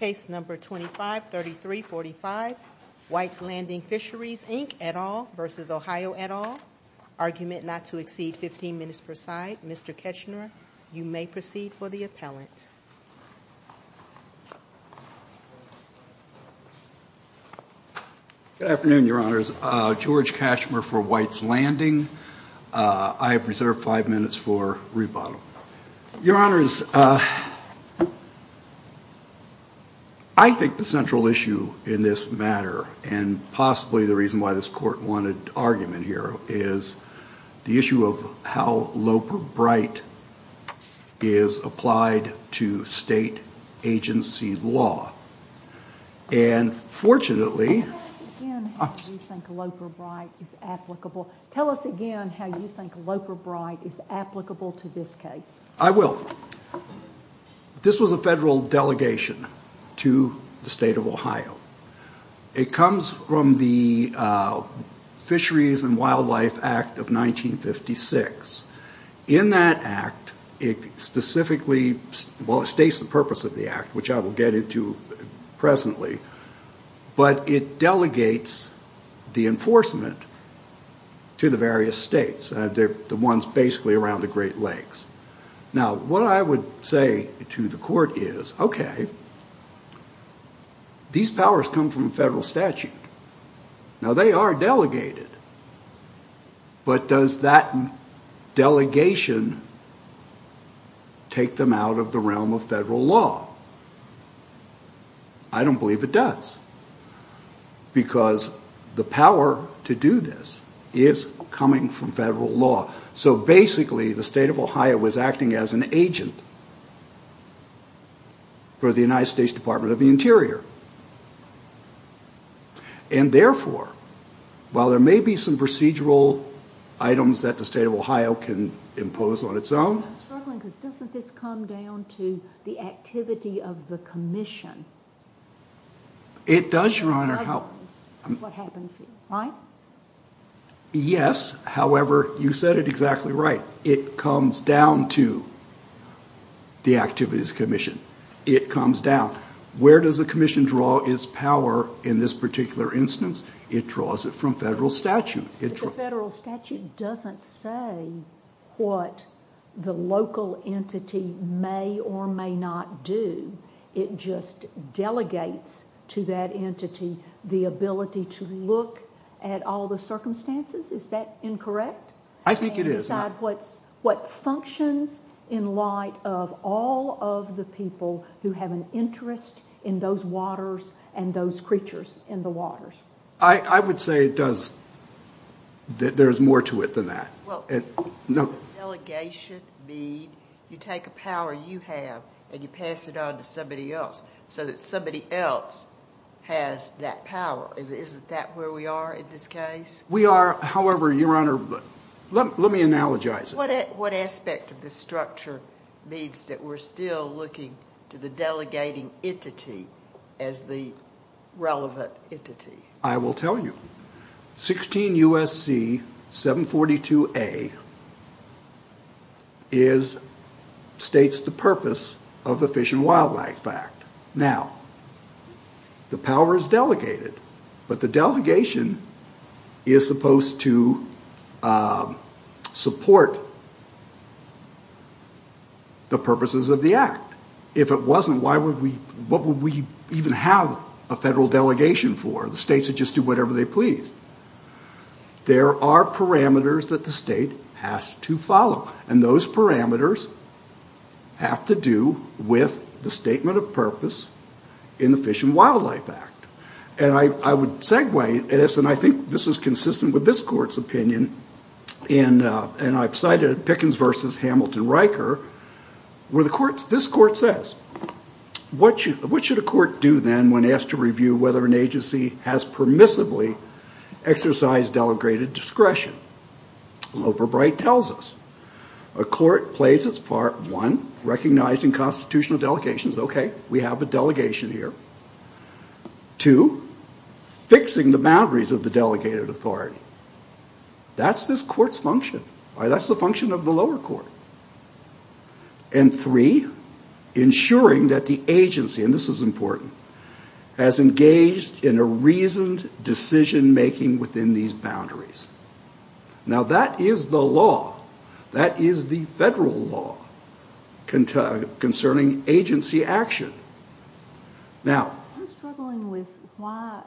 Case number 253345, White's Landing Fisheries Inc, et al. v. Ohio, et al., argument not to exceed 15 minutes per side. Mr. Keschner, you may proceed for the appellant. Good afternoon, Your Honors. George Keschner for White's Landing. I have reserved 5 minutes for rebuttal. Your Honors, I think the central issue in this matter, and possibly the reason why this Court wanted argument here, is the issue of how Loper-Bright is applied to state agency law. And fortunately... Tell us again how you think Loper-Bright is applicable. I will. This was a federal delegation to the state of Ohio. It comes from the Fisheries and Wildlife Act of 1956. In that act, it specifically, well, it states the purpose of the act, which I will get into presently, but it delegates the enforcement to the various states. The ones basically around the Great Lakes. Now, what I would say to the Court is, okay, these powers come from federal statute. Now, they are delegated. But does that delegation take them out of the realm of federal law? I don't believe it does. Because the power to do this is coming from federal law. So basically, the state of Ohio is acting as an agent for the United States Department of the Interior. And therefore, while there may be some procedural items that the state of Ohio can impose on its own... I'm struggling because doesn't this come down to the activity of the Commission? It does, Your Honor. What happens here, right? Yes, however, you said it exactly right. It comes down to the activities of the Commission. It comes down. Where does the Commission draw its power in this particular instance? It draws it from federal statute. But the federal statute doesn't say what the local entity may or may not do. It just delegates to that entity the ability to look at all the circumstances. Is that incorrect? I think it is. What functions in light of all of the people who have an interest in those waters and those creatures in the waters? I would say it does. There's more to it than that. Does delegation mean you take a power you have and you pass it on to somebody else so that somebody else has that power? Isn't that where we are in this case? We are. However, Your Honor, let me analogize it. What aspect of this structure means that we're still looking to the delegating entity as the relevant entity? I will tell you. 16 U.S.C. 742A states the purpose of the Fish and Wildlife Act. Now, the power is delegated, but the delegation is supposed to support the purposes of the act. If it wasn't, what would we even have a federal delegation for? The states would just do whatever they please. There are parameters that the state has to follow, and those parameters have to do with the statement of purpose in the Fish and Wildlife Act. And I would segue, and I think this is consistent with this Court's opinion, and I've cited Pickens v. Hamilton Riker, where this Court says, what should a court do then when asked to review whether an agency has permissibly exercised delegated discretion? Loeb or Bright tells us, a court plays its part, one, recognizing constitutional delegations. Okay, we have a delegation here. Two, fixing the boundaries of the delegated authority. That's this Court's function. That's the function of the lower court. And three, ensuring that the agency, and this is important, has engaged in a reasoned decision-making within these boundaries. Now that is the law. That is the federal law concerning agency action. Now, I'm struggling with why,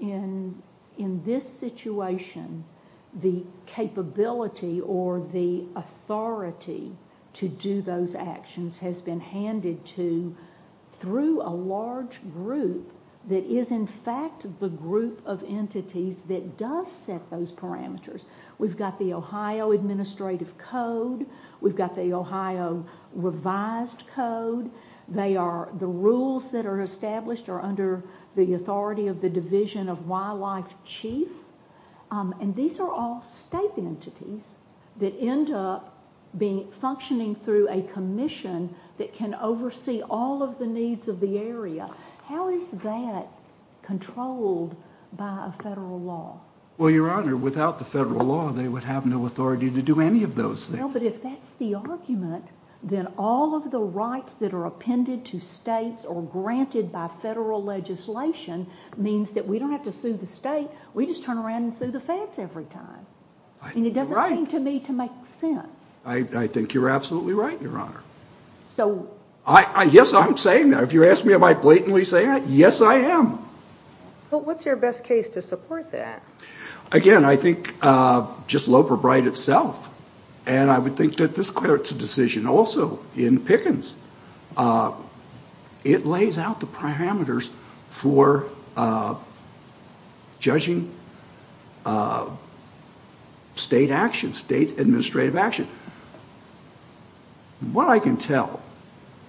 in this situation, the capability or the authority to do those actions has been handed to, through a large group that is in fact the group of entities that does set those parameters. We've got the Ohio Administrative Code. We've got the Ohio Revised Code. They are, the rules that are established are under the authority of the Division of Wildlife Chief. And these are all state entities that end up functioning through a commission that can oversee all of the needs of the area. How is that controlled by a federal law? Well, Your Honor, without the federal law, they would have no authority to do any of those things. Well, but if that's the argument, then all of the rights that are appended to states or granted by federal legislation means that we don't have to sue the state. We just turn around and sue the feds every time. I think you're right. And it doesn't seem to me to make sense. I think you're absolutely right, Your Honor. So... Yes, I'm saying that. If you ask me am I blatantly saying it, yes I am. But what's your best case to support that? Again, I think just Loper-Bright itself. And I would think that this court's decision also in Pickens, it lays out the parameters for judging state action, state administrative action. What I can tell,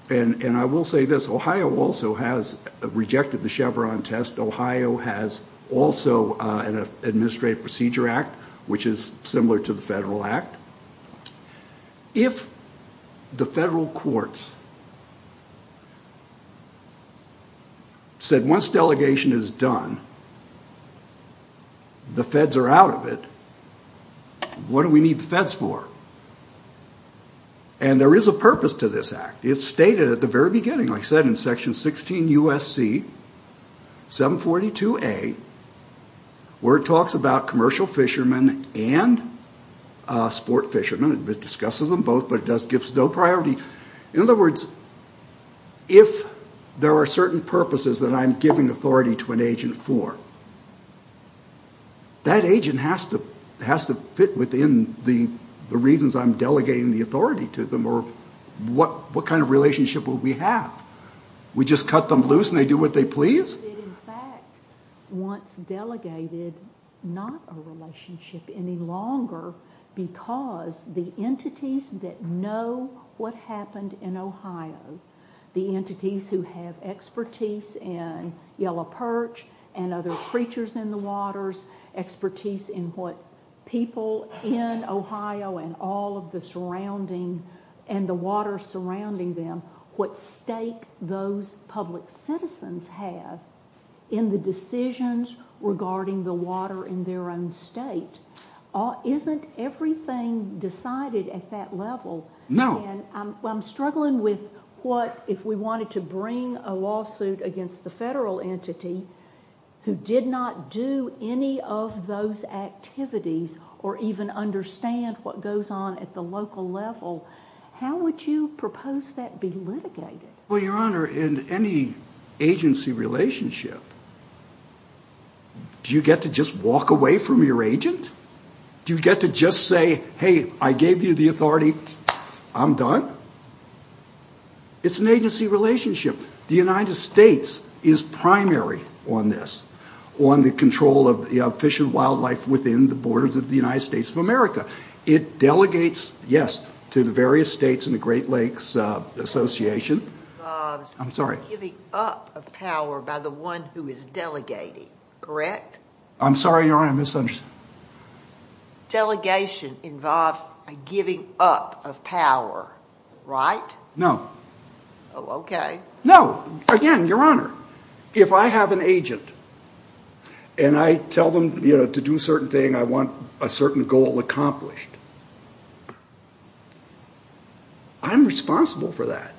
and I will say this, Ohio also has rejected the Chevron test. Ohio has also an Administrative Procedure Act, which is similar to the federal act. If the federal courts said once delegation is done, the feds are out of it, what do we need the feds for? And there is a purpose to this act. It's stated at the very beginning, like I said, in section 16 U.S.C. 742A, where it talks about commercial fishermen and sport fishermen. It discusses them both, but it gives no priority. In other words, if there are certain purposes that I'm giving authority to an agent for, that agent has to fit within the reasons I'm delegating the authority to them, or what kind of relationship will we have? We just cut them loose and they do what they please? It in fact wants delegated not a relationship any longer because the entities that know what happened in Ohio, the entities who have expertise in Yellow Perch and other creatures in the waters, expertise in what people in Ohio and all of the surrounding, and the water surrounding them, what stake those public citizens have in the decisions regarding the water in their own state, isn't everything decided at that level? No. I'm struggling with what if we wanted to bring a lawsuit against the federal entity who did not do any of those activities or even understand what goes on at the local level, how would you propose that be litigated? Well, Your Honor, in any agency relationship, do you get to just walk away from your agent? Do you get to just say, hey, I gave you the authority, I'm done? It's an agency relationship. The United States is primary on this, on the control of fish and wildlife within the borders of the United States of America. It delegates, yes, to the various states and the Great Lakes Association. Bob's giving up of power by the one who is delegating, correct? I'm sorry, Your Honor, I misunderstood. Delegation involves a giving up of power, right? No. Oh, okay. No. Again, Your Honor, if I have an agent and I tell them to do a certain thing, I want a certain goal accomplished, I'm responsible for that.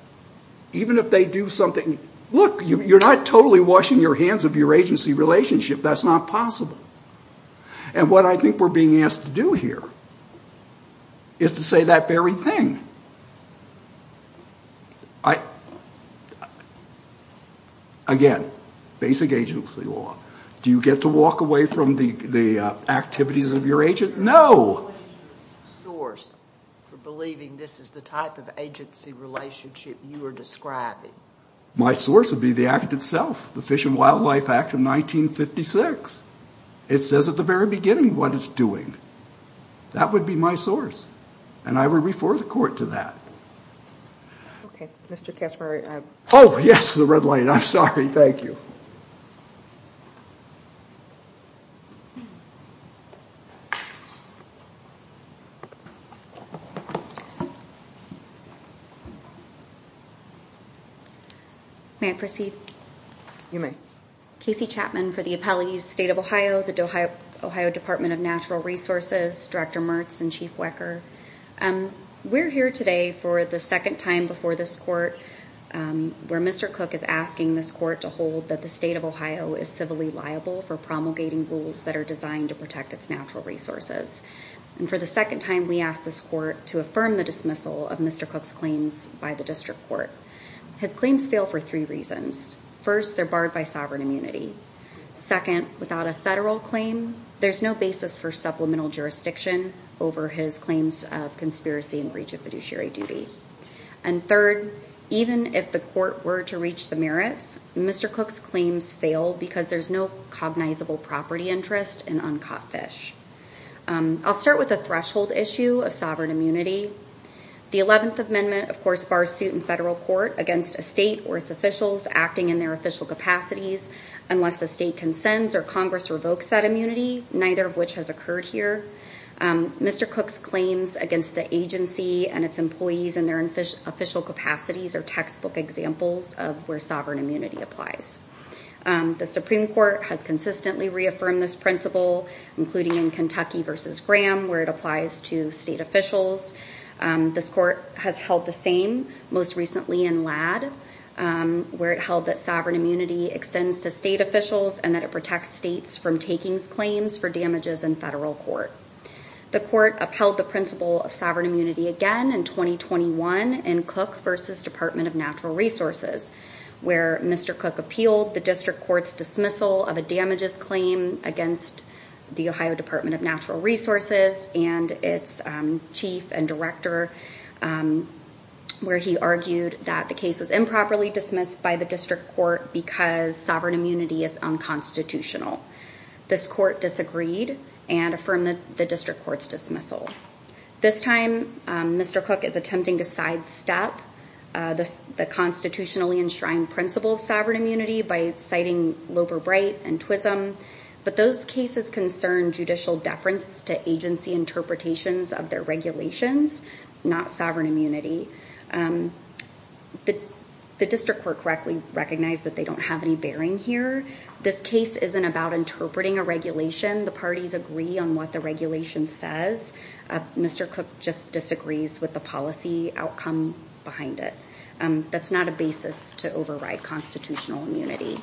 Even if they do something, look, you're not totally washing your hands of your agency relationship. That's not possible. And what I think we're being asked to do here is to say that very thing. Again, basic agency law. Do you get to walk away from the activities of your agent? No. What is your source for believing this is the type of agency relationship you are describing? My source would be the act itself, the Fish and Wildlife Act of 1956. It says at the very beginning what it's doing. That would be my source. And I would refer the court to that. Okay. Mr. Cashmere. Oh, yes, the red light. I'm sorry. Thank you. May I proceed? You may. Casey Chapman for the Appellees State of Ohio, the Ohio Department of Natural Resources, Director Mertz and Chief Wecker. We're here today for the second time before this court where Mr. Cook is asking this court to hold that the State of Ohio is civilly liable for promulgating rules that are designed to protect its natural resources. And for the second time, we ask this court to affirm the dismissal of Mr. Cook's claims by the district court. His claims fail for three reasons. First, they're barred by sovereign immunity. Second, without a federal claim, there's no basis for supplemental jurisdiction over his claims of conspiracy and breach of fiduciary duty. And third, even if the court were to reach the merits, Mr. Cook's claims fail because there's no cognizable property interest in uncaught fish. I'll start with the threshold issue of sovereign immunity. The 11th Amendment, of course, bars suit in federal court against a state or its officials acting in their official capacities unless the state consents or Congress revokes that immunity, neither of which has occurred here. Mr. Cook's claims against the agency and its employees in their official capacities are textbook examples of where sovereign immunity applies. The Supreme Court has consistently reaffirmed this principle, including in Kentucky v. Graham, where it applies to state officials. This court has held the same, most recently in Ladd, where it held that sovereign immunity extends to state officials and that it protects states from taking claims for damages in federal court. The court upheld the principle of sovereign immunity again in 2021 in Cook v. Department of Natural Resources, where Mr. Cook appealed the district court's dismissal of a damages claim against the Ohio Department of Natural Resources and its chief and director, where he argued that the case was improperly dismissed by the district court because sovereign immunity is unconstitutional. This court disagreed and affirmed the district court's dismissal. This time, Mr. Cook is attempting to sidestep the constitutionally enshrined principle of sovereign immunity by citing Loeber-Bright and Twissem, but those cases concern judicial deference to agency interpretations of their regulations, not sovereign immunity. The district court correctly recognized that they don't have any bearing here. This case isn't about interpreting a regulation. The parties agree on what the regulation says. Mr. Cook just disagrees with the policy outcome behind it. That's not a basis to override constitutional immunity.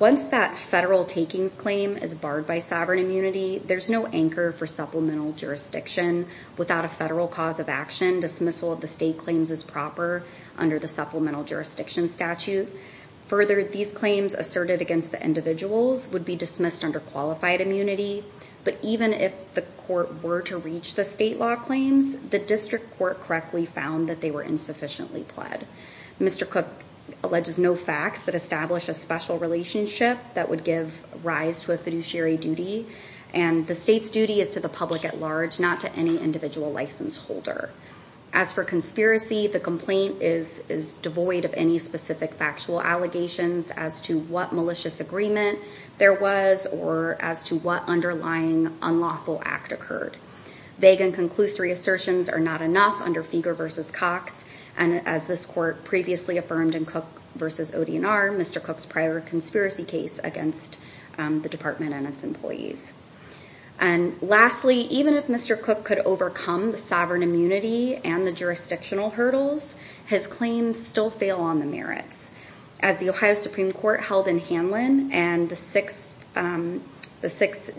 Once that federal takings claim is barred by sovereign immunity, there's no anchor for supplemental jurisdiction. Without a federal cause of action, dismissal of the state claims is proper under the supplemental jurisdiction statute. Further, these claims asserted against the individuals would be dismissed under qualified immunity. But even if the court were to reach the state law claims, the district court correctly found that they were insufficiently pled. Mr. Cook alleges no facts that establish a special relationship that would give rise to a fiduciary duty, and the state's duty is to the public at large, not to any individual license holder. As for conspiracy, the complaint is devoid of any specific factual allegations as to what malicious agreement there was or as to what underlying unlawful act occurred. Vague and conclusory assertions are not enough under Feger v. Cox. And as this court previously affirmed in Cook v. O.D.N.R., Mr. Cook's prior conspiracy case against the department and its employees. And lastly, even if Mr. Cook could overcome the sovereign immunity and the jurisdictional hurdles, his claims still fail on the merits. As the Ohio Supreme Court held in Hanlon and the Sixth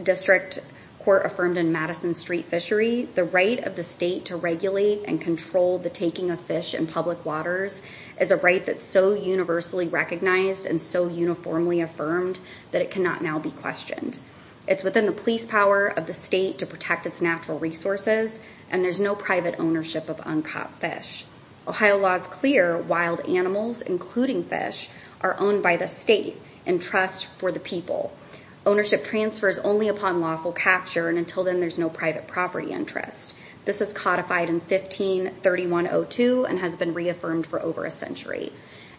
District Court affirmed in Madison Street Fishery, the right of the state to regulate and control the taking of fish in public waters is a right that's so universally recognized and so uniformly affirmed that it cannot now be questioned. It's within the police power of the state to protect its natural resources, and there's no private ownership of uncaught fish. Ohio law is clear. Wild animals, including fish, are owned by the state and trust for the people. Ownership transfer is only upon lawful capture, and until then, there's no private property interest. This is codified in 15-3102 and has been reaffirmed for over a century.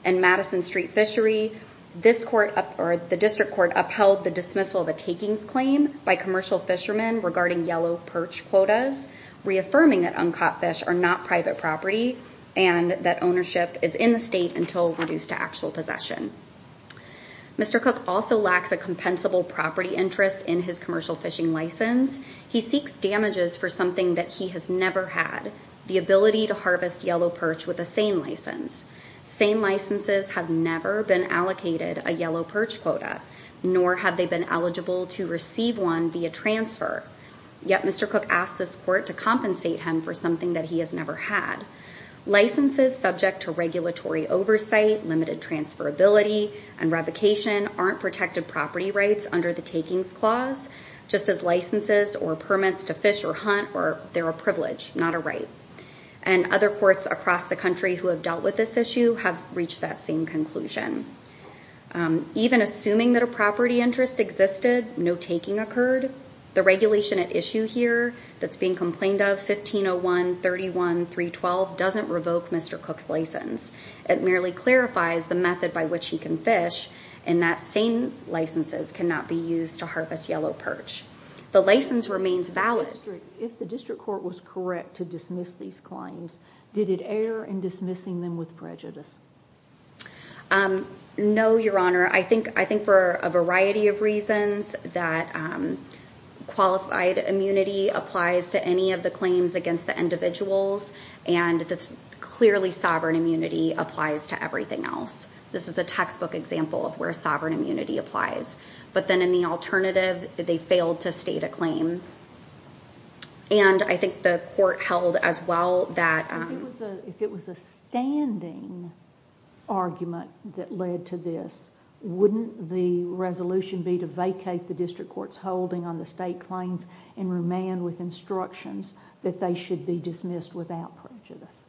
In Madison Street Fishery, the district court upheld the dismissal of a takings claim by commercial fishermen regarding yellow perch quotas, reaffirming that uncaught fish are not private property and that ownership is in the state until reduced to actual possession. Mr. Cook also lacks a compensable property interest in his commercial fishing license. He seeks damages for something that he has never had, the ability to harvest yellow perch with a SANE license. SANE licenses have never been allocated a yellow perch quota, nor have they been eligible to receive one via transfer. Yet Mr. Cook asked this court to compensate him for something that he has never had. Licenses subject to regulatory oversight, limited transferability and revocation aren't protected property rights under the takings clause, just as licenses or permits to fish or hunt or they're a privilege, not a right. And other courts across the country who have dealt with this issue have reached that same conclusion. Even assuming that a property interest existed, no taking occurred. The regulation at issue here that's being complained of, 1501.31.312, doesn't revoke Mr. Cook's license. It merely clarifies the method by which he can fish and that SANE licenses cannot be used to harvest yellow perch. The license remains valid. If the district court was correct to dismiss these claims, did it err in dismissing them with prejudice? No, Your Honor. I think for a variety of reasons that qualified immunity applies to any of the claims against the individuals, and that's clearly sovereign immunity applies to everything else. This is a textbook example of where sovereign immunity applies. But then in the alternative, they failed to state a claim. And I think the court held as well that... If it was a standing argument that led to this, wouldn't the resolution be to vacate the district court's holding on the state claims and remand with instructions that they should be dismissed without prejudice?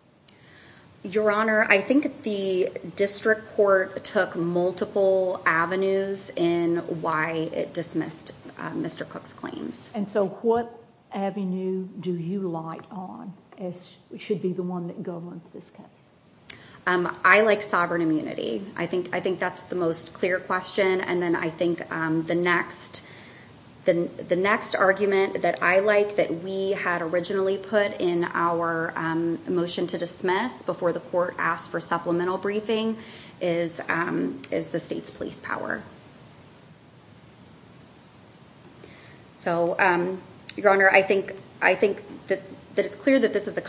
Your Honor, I think the district court took multiple avenues in why it dismissed Mr. Cook's claims. And so what avenue do you light on should be the one that governs this case? I like sovereign immunity. I think that's the most clear question. And then I think the next argument that I like that we had originally put in our motion to dismiss before the court asked for supplemental briefing is the state's police power. So, Your Honor, I think that it's clear that this is a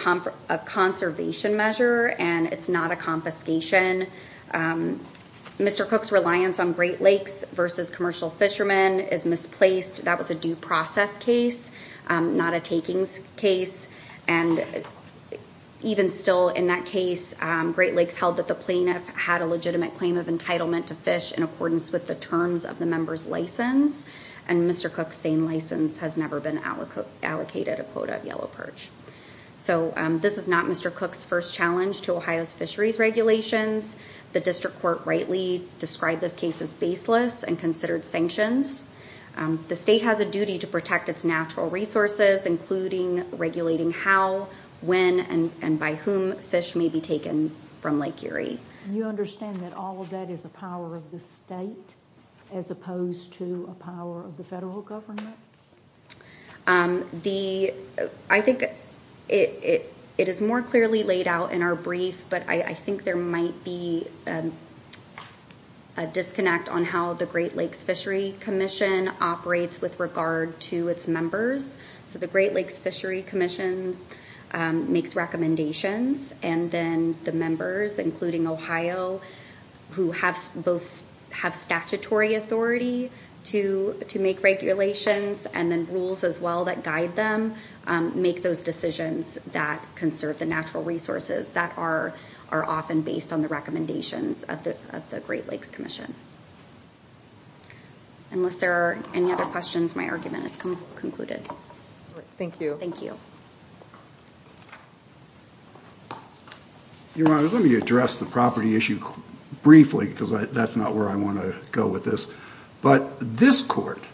conservation measure and it's not a confiscation. Mr. Cook's reliance on Great Lakes versus commercial fishermen is misplaced. That was a due process case, not a takings case. And even still in that case, Great Lakes held that the plaintiff had a legitimate claim of entitlement to fish in accordance with the terms of the member's license, and Mr. Cook's same license has never been allocated a quota of yellow perch. So this is not Mr. Cook's first challenge to Ohio's fisheries regulations. The district court rightly described this case as baseless and considered sanctions. The state has a duty to protect its natural resources, including regulating how, when, and by whom fish may be taken from Lake Erie. Do you understand that all of that is a power of the state as opposed to a power of the federal government? I think it is more clearly laid out in our brief, but I think there might be a disconnect on how the Great Lakes Fishery Commission operates with regard to its members. So the Great Lakes Fishery Commission makes recommendations, and then the members, including Ohio, who both have statutory authority to make regulations and then rules as well that guide them, make those decisions that conserve the natural resources that are often based on the recommendations of the Great Lakes Commission. Unless there are any other questions, my argument is concluded. Thank you. Thank you. Your Honor, let me address the property issue briefly because that's not where I want to go with this. But this court,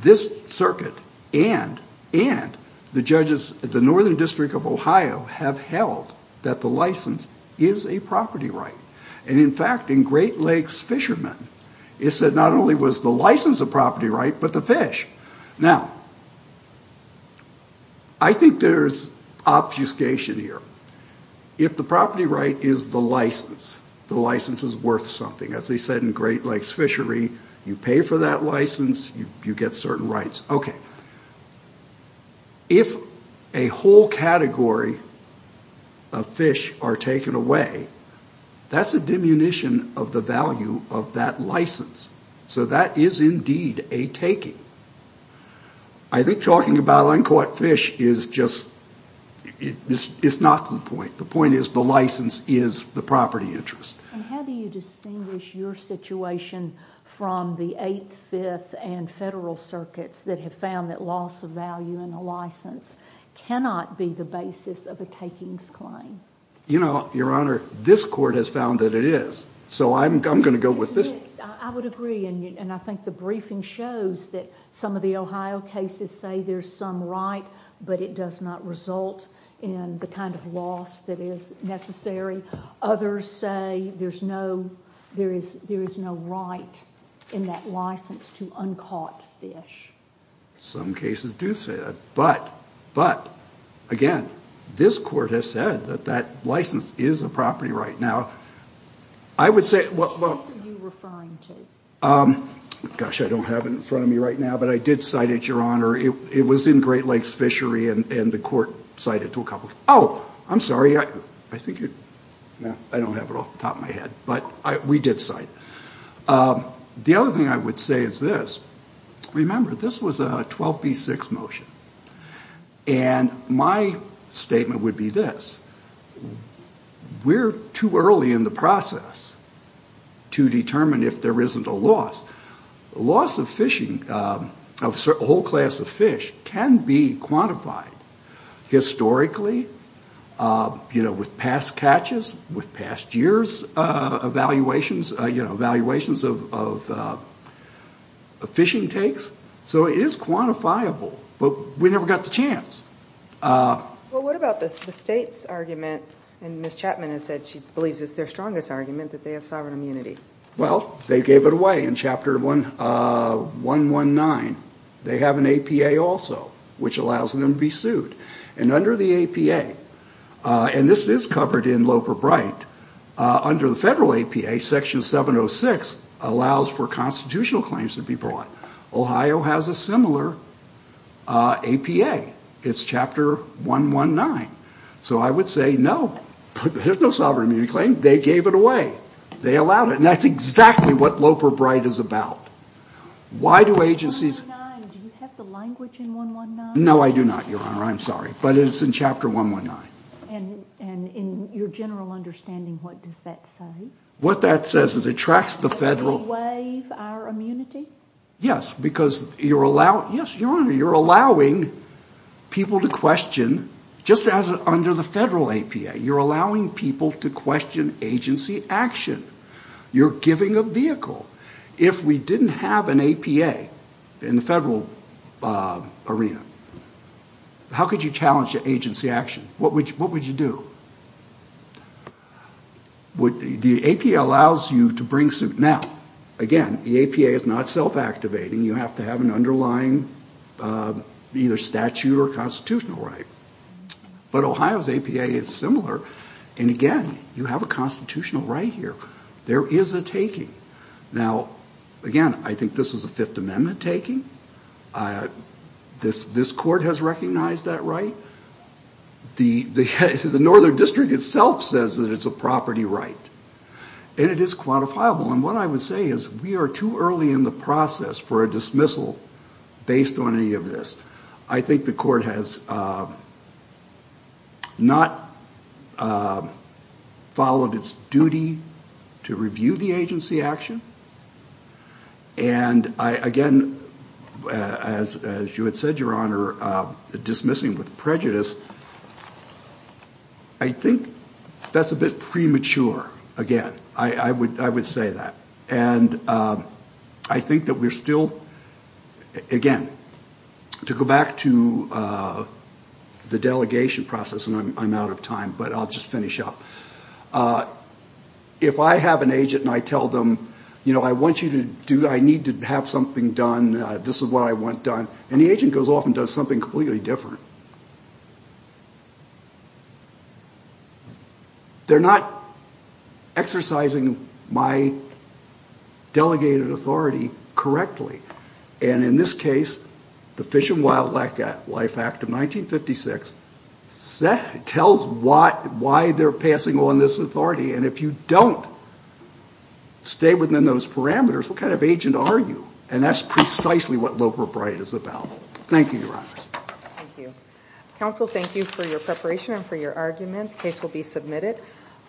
this circuit, and the judges at the Northern District of Ohio have held that the license is a property right. And in fact, in Great Lakes Fishermen, it said not only was the license a property right, but the fish. Now, I think there's obfuscation here. If the property right is the license, the license is worth something. As they said in Great Lakes Fishery, you pay for that license, you get certain rights. Okay. If a whole category of fish are taken away, that's a diminution of the value of that license. So that is indeed a taking. I think talking about uncaught fish is just, it's not the point. The point is the license is the property interest. And how do you distinguish your situation from the Eighth, Fifth, and Federal circuits that have found that loss of value in a license cannot be the basis of a takings claim? You know, Your Honor, this court has found that it is. So I'm going to go with this. I would agree, and I think the briefing shows that some of the Ohio cases say there's some right, but it does not result in the kind of loss that is necessary. Others say there is no right in that license to uncaught fish. Some cases do say that. But, again, this court has said that that license is a property right. Now, I would say, well. What case are you referring to? Gosh, I don't have it in front of me right now, but I did cite it, Your Honor. It was in Great Lakes Fishery, and the court cited it to a couple. Oh, I'm sorry. I think you're, no, I don't have it off the top of my head. But we did cite it. The other thing I would say is this. Remember, this was a 12B6 motion. And my statement would be this. We're too early in the process to determine if there isn't a loss. Loss of fishing, of a whole class of fish, can be quantified. Historically, you know, with past catches, with past years' evaluations, you know, we never got the chance. Well, what about the state's argument? And Ms. Chapman has said she believes it's their strongest argument, that they have sovereign immunity. Well, they gave it away in Chapter 119. They have an APA also, which allows them to be sued. And under the APA, and this is covered in Loper-Bright, under the federal APA, Section 706 allows for constitutional claims to be brought. Ohio has a similar APA. It's Chapter 119. So I would say, no, there's no sovereign immunity claim. They gave it away. They allowed it. And that's exactly what Loper-Bright is about. Why do agencies... Do you have the language in 119? No, I do not, Your Honor. I'm sorry. But it's in Chapter 119. And in your general understanding, what does that say? What that says is it tracks the federal... Does it waive our immunity? Yes, because you're allowing people to question, just as under the federal APA, you're allowing people to question agency action. You're giving a vehicle. If we didn't have an APA in the federal arena, how could you challenge agency action? What would you do? The APA allows you to bring suit. Now, again, the APA is not self-activating. You have to have an underlying either statute or constitutional right. But Ohio's APA is similar. And again, you have a constitutional right here. There is a taking. Now, again, I think this is a Fifth Amendment taking. This court has recognized that right. The Northern District itself says that it's a property right. And it is quantifiable. And what I would say is we are too early in the process for a dismissal based on any of this. I think the court has not followed its duty to review the agency action. And, again, as you had said, Your Honor, dismissing with prejudice, I think that's a bit premature. Again, I would say that. And I think that we're still, again, to go back to the delegation process, and I'm out of time, but I'll just finish up. If I have an agent and I tell them, you know, I want you to do, I need to have something done, this is what I want done, and the agent goes off and does something completely different. They're not exercising my delegated authority correctly. And in this case, the Fish and Wildlife Act of 1956 tells why they're passing on this authority. And if you don't stay within those parameters, what kind of agent are you? And that's precisely what Loper Bright is about. Thank you, Your Honors. Thank you. Counsel, thank you for your preparation and for your argument. The case will be submitted.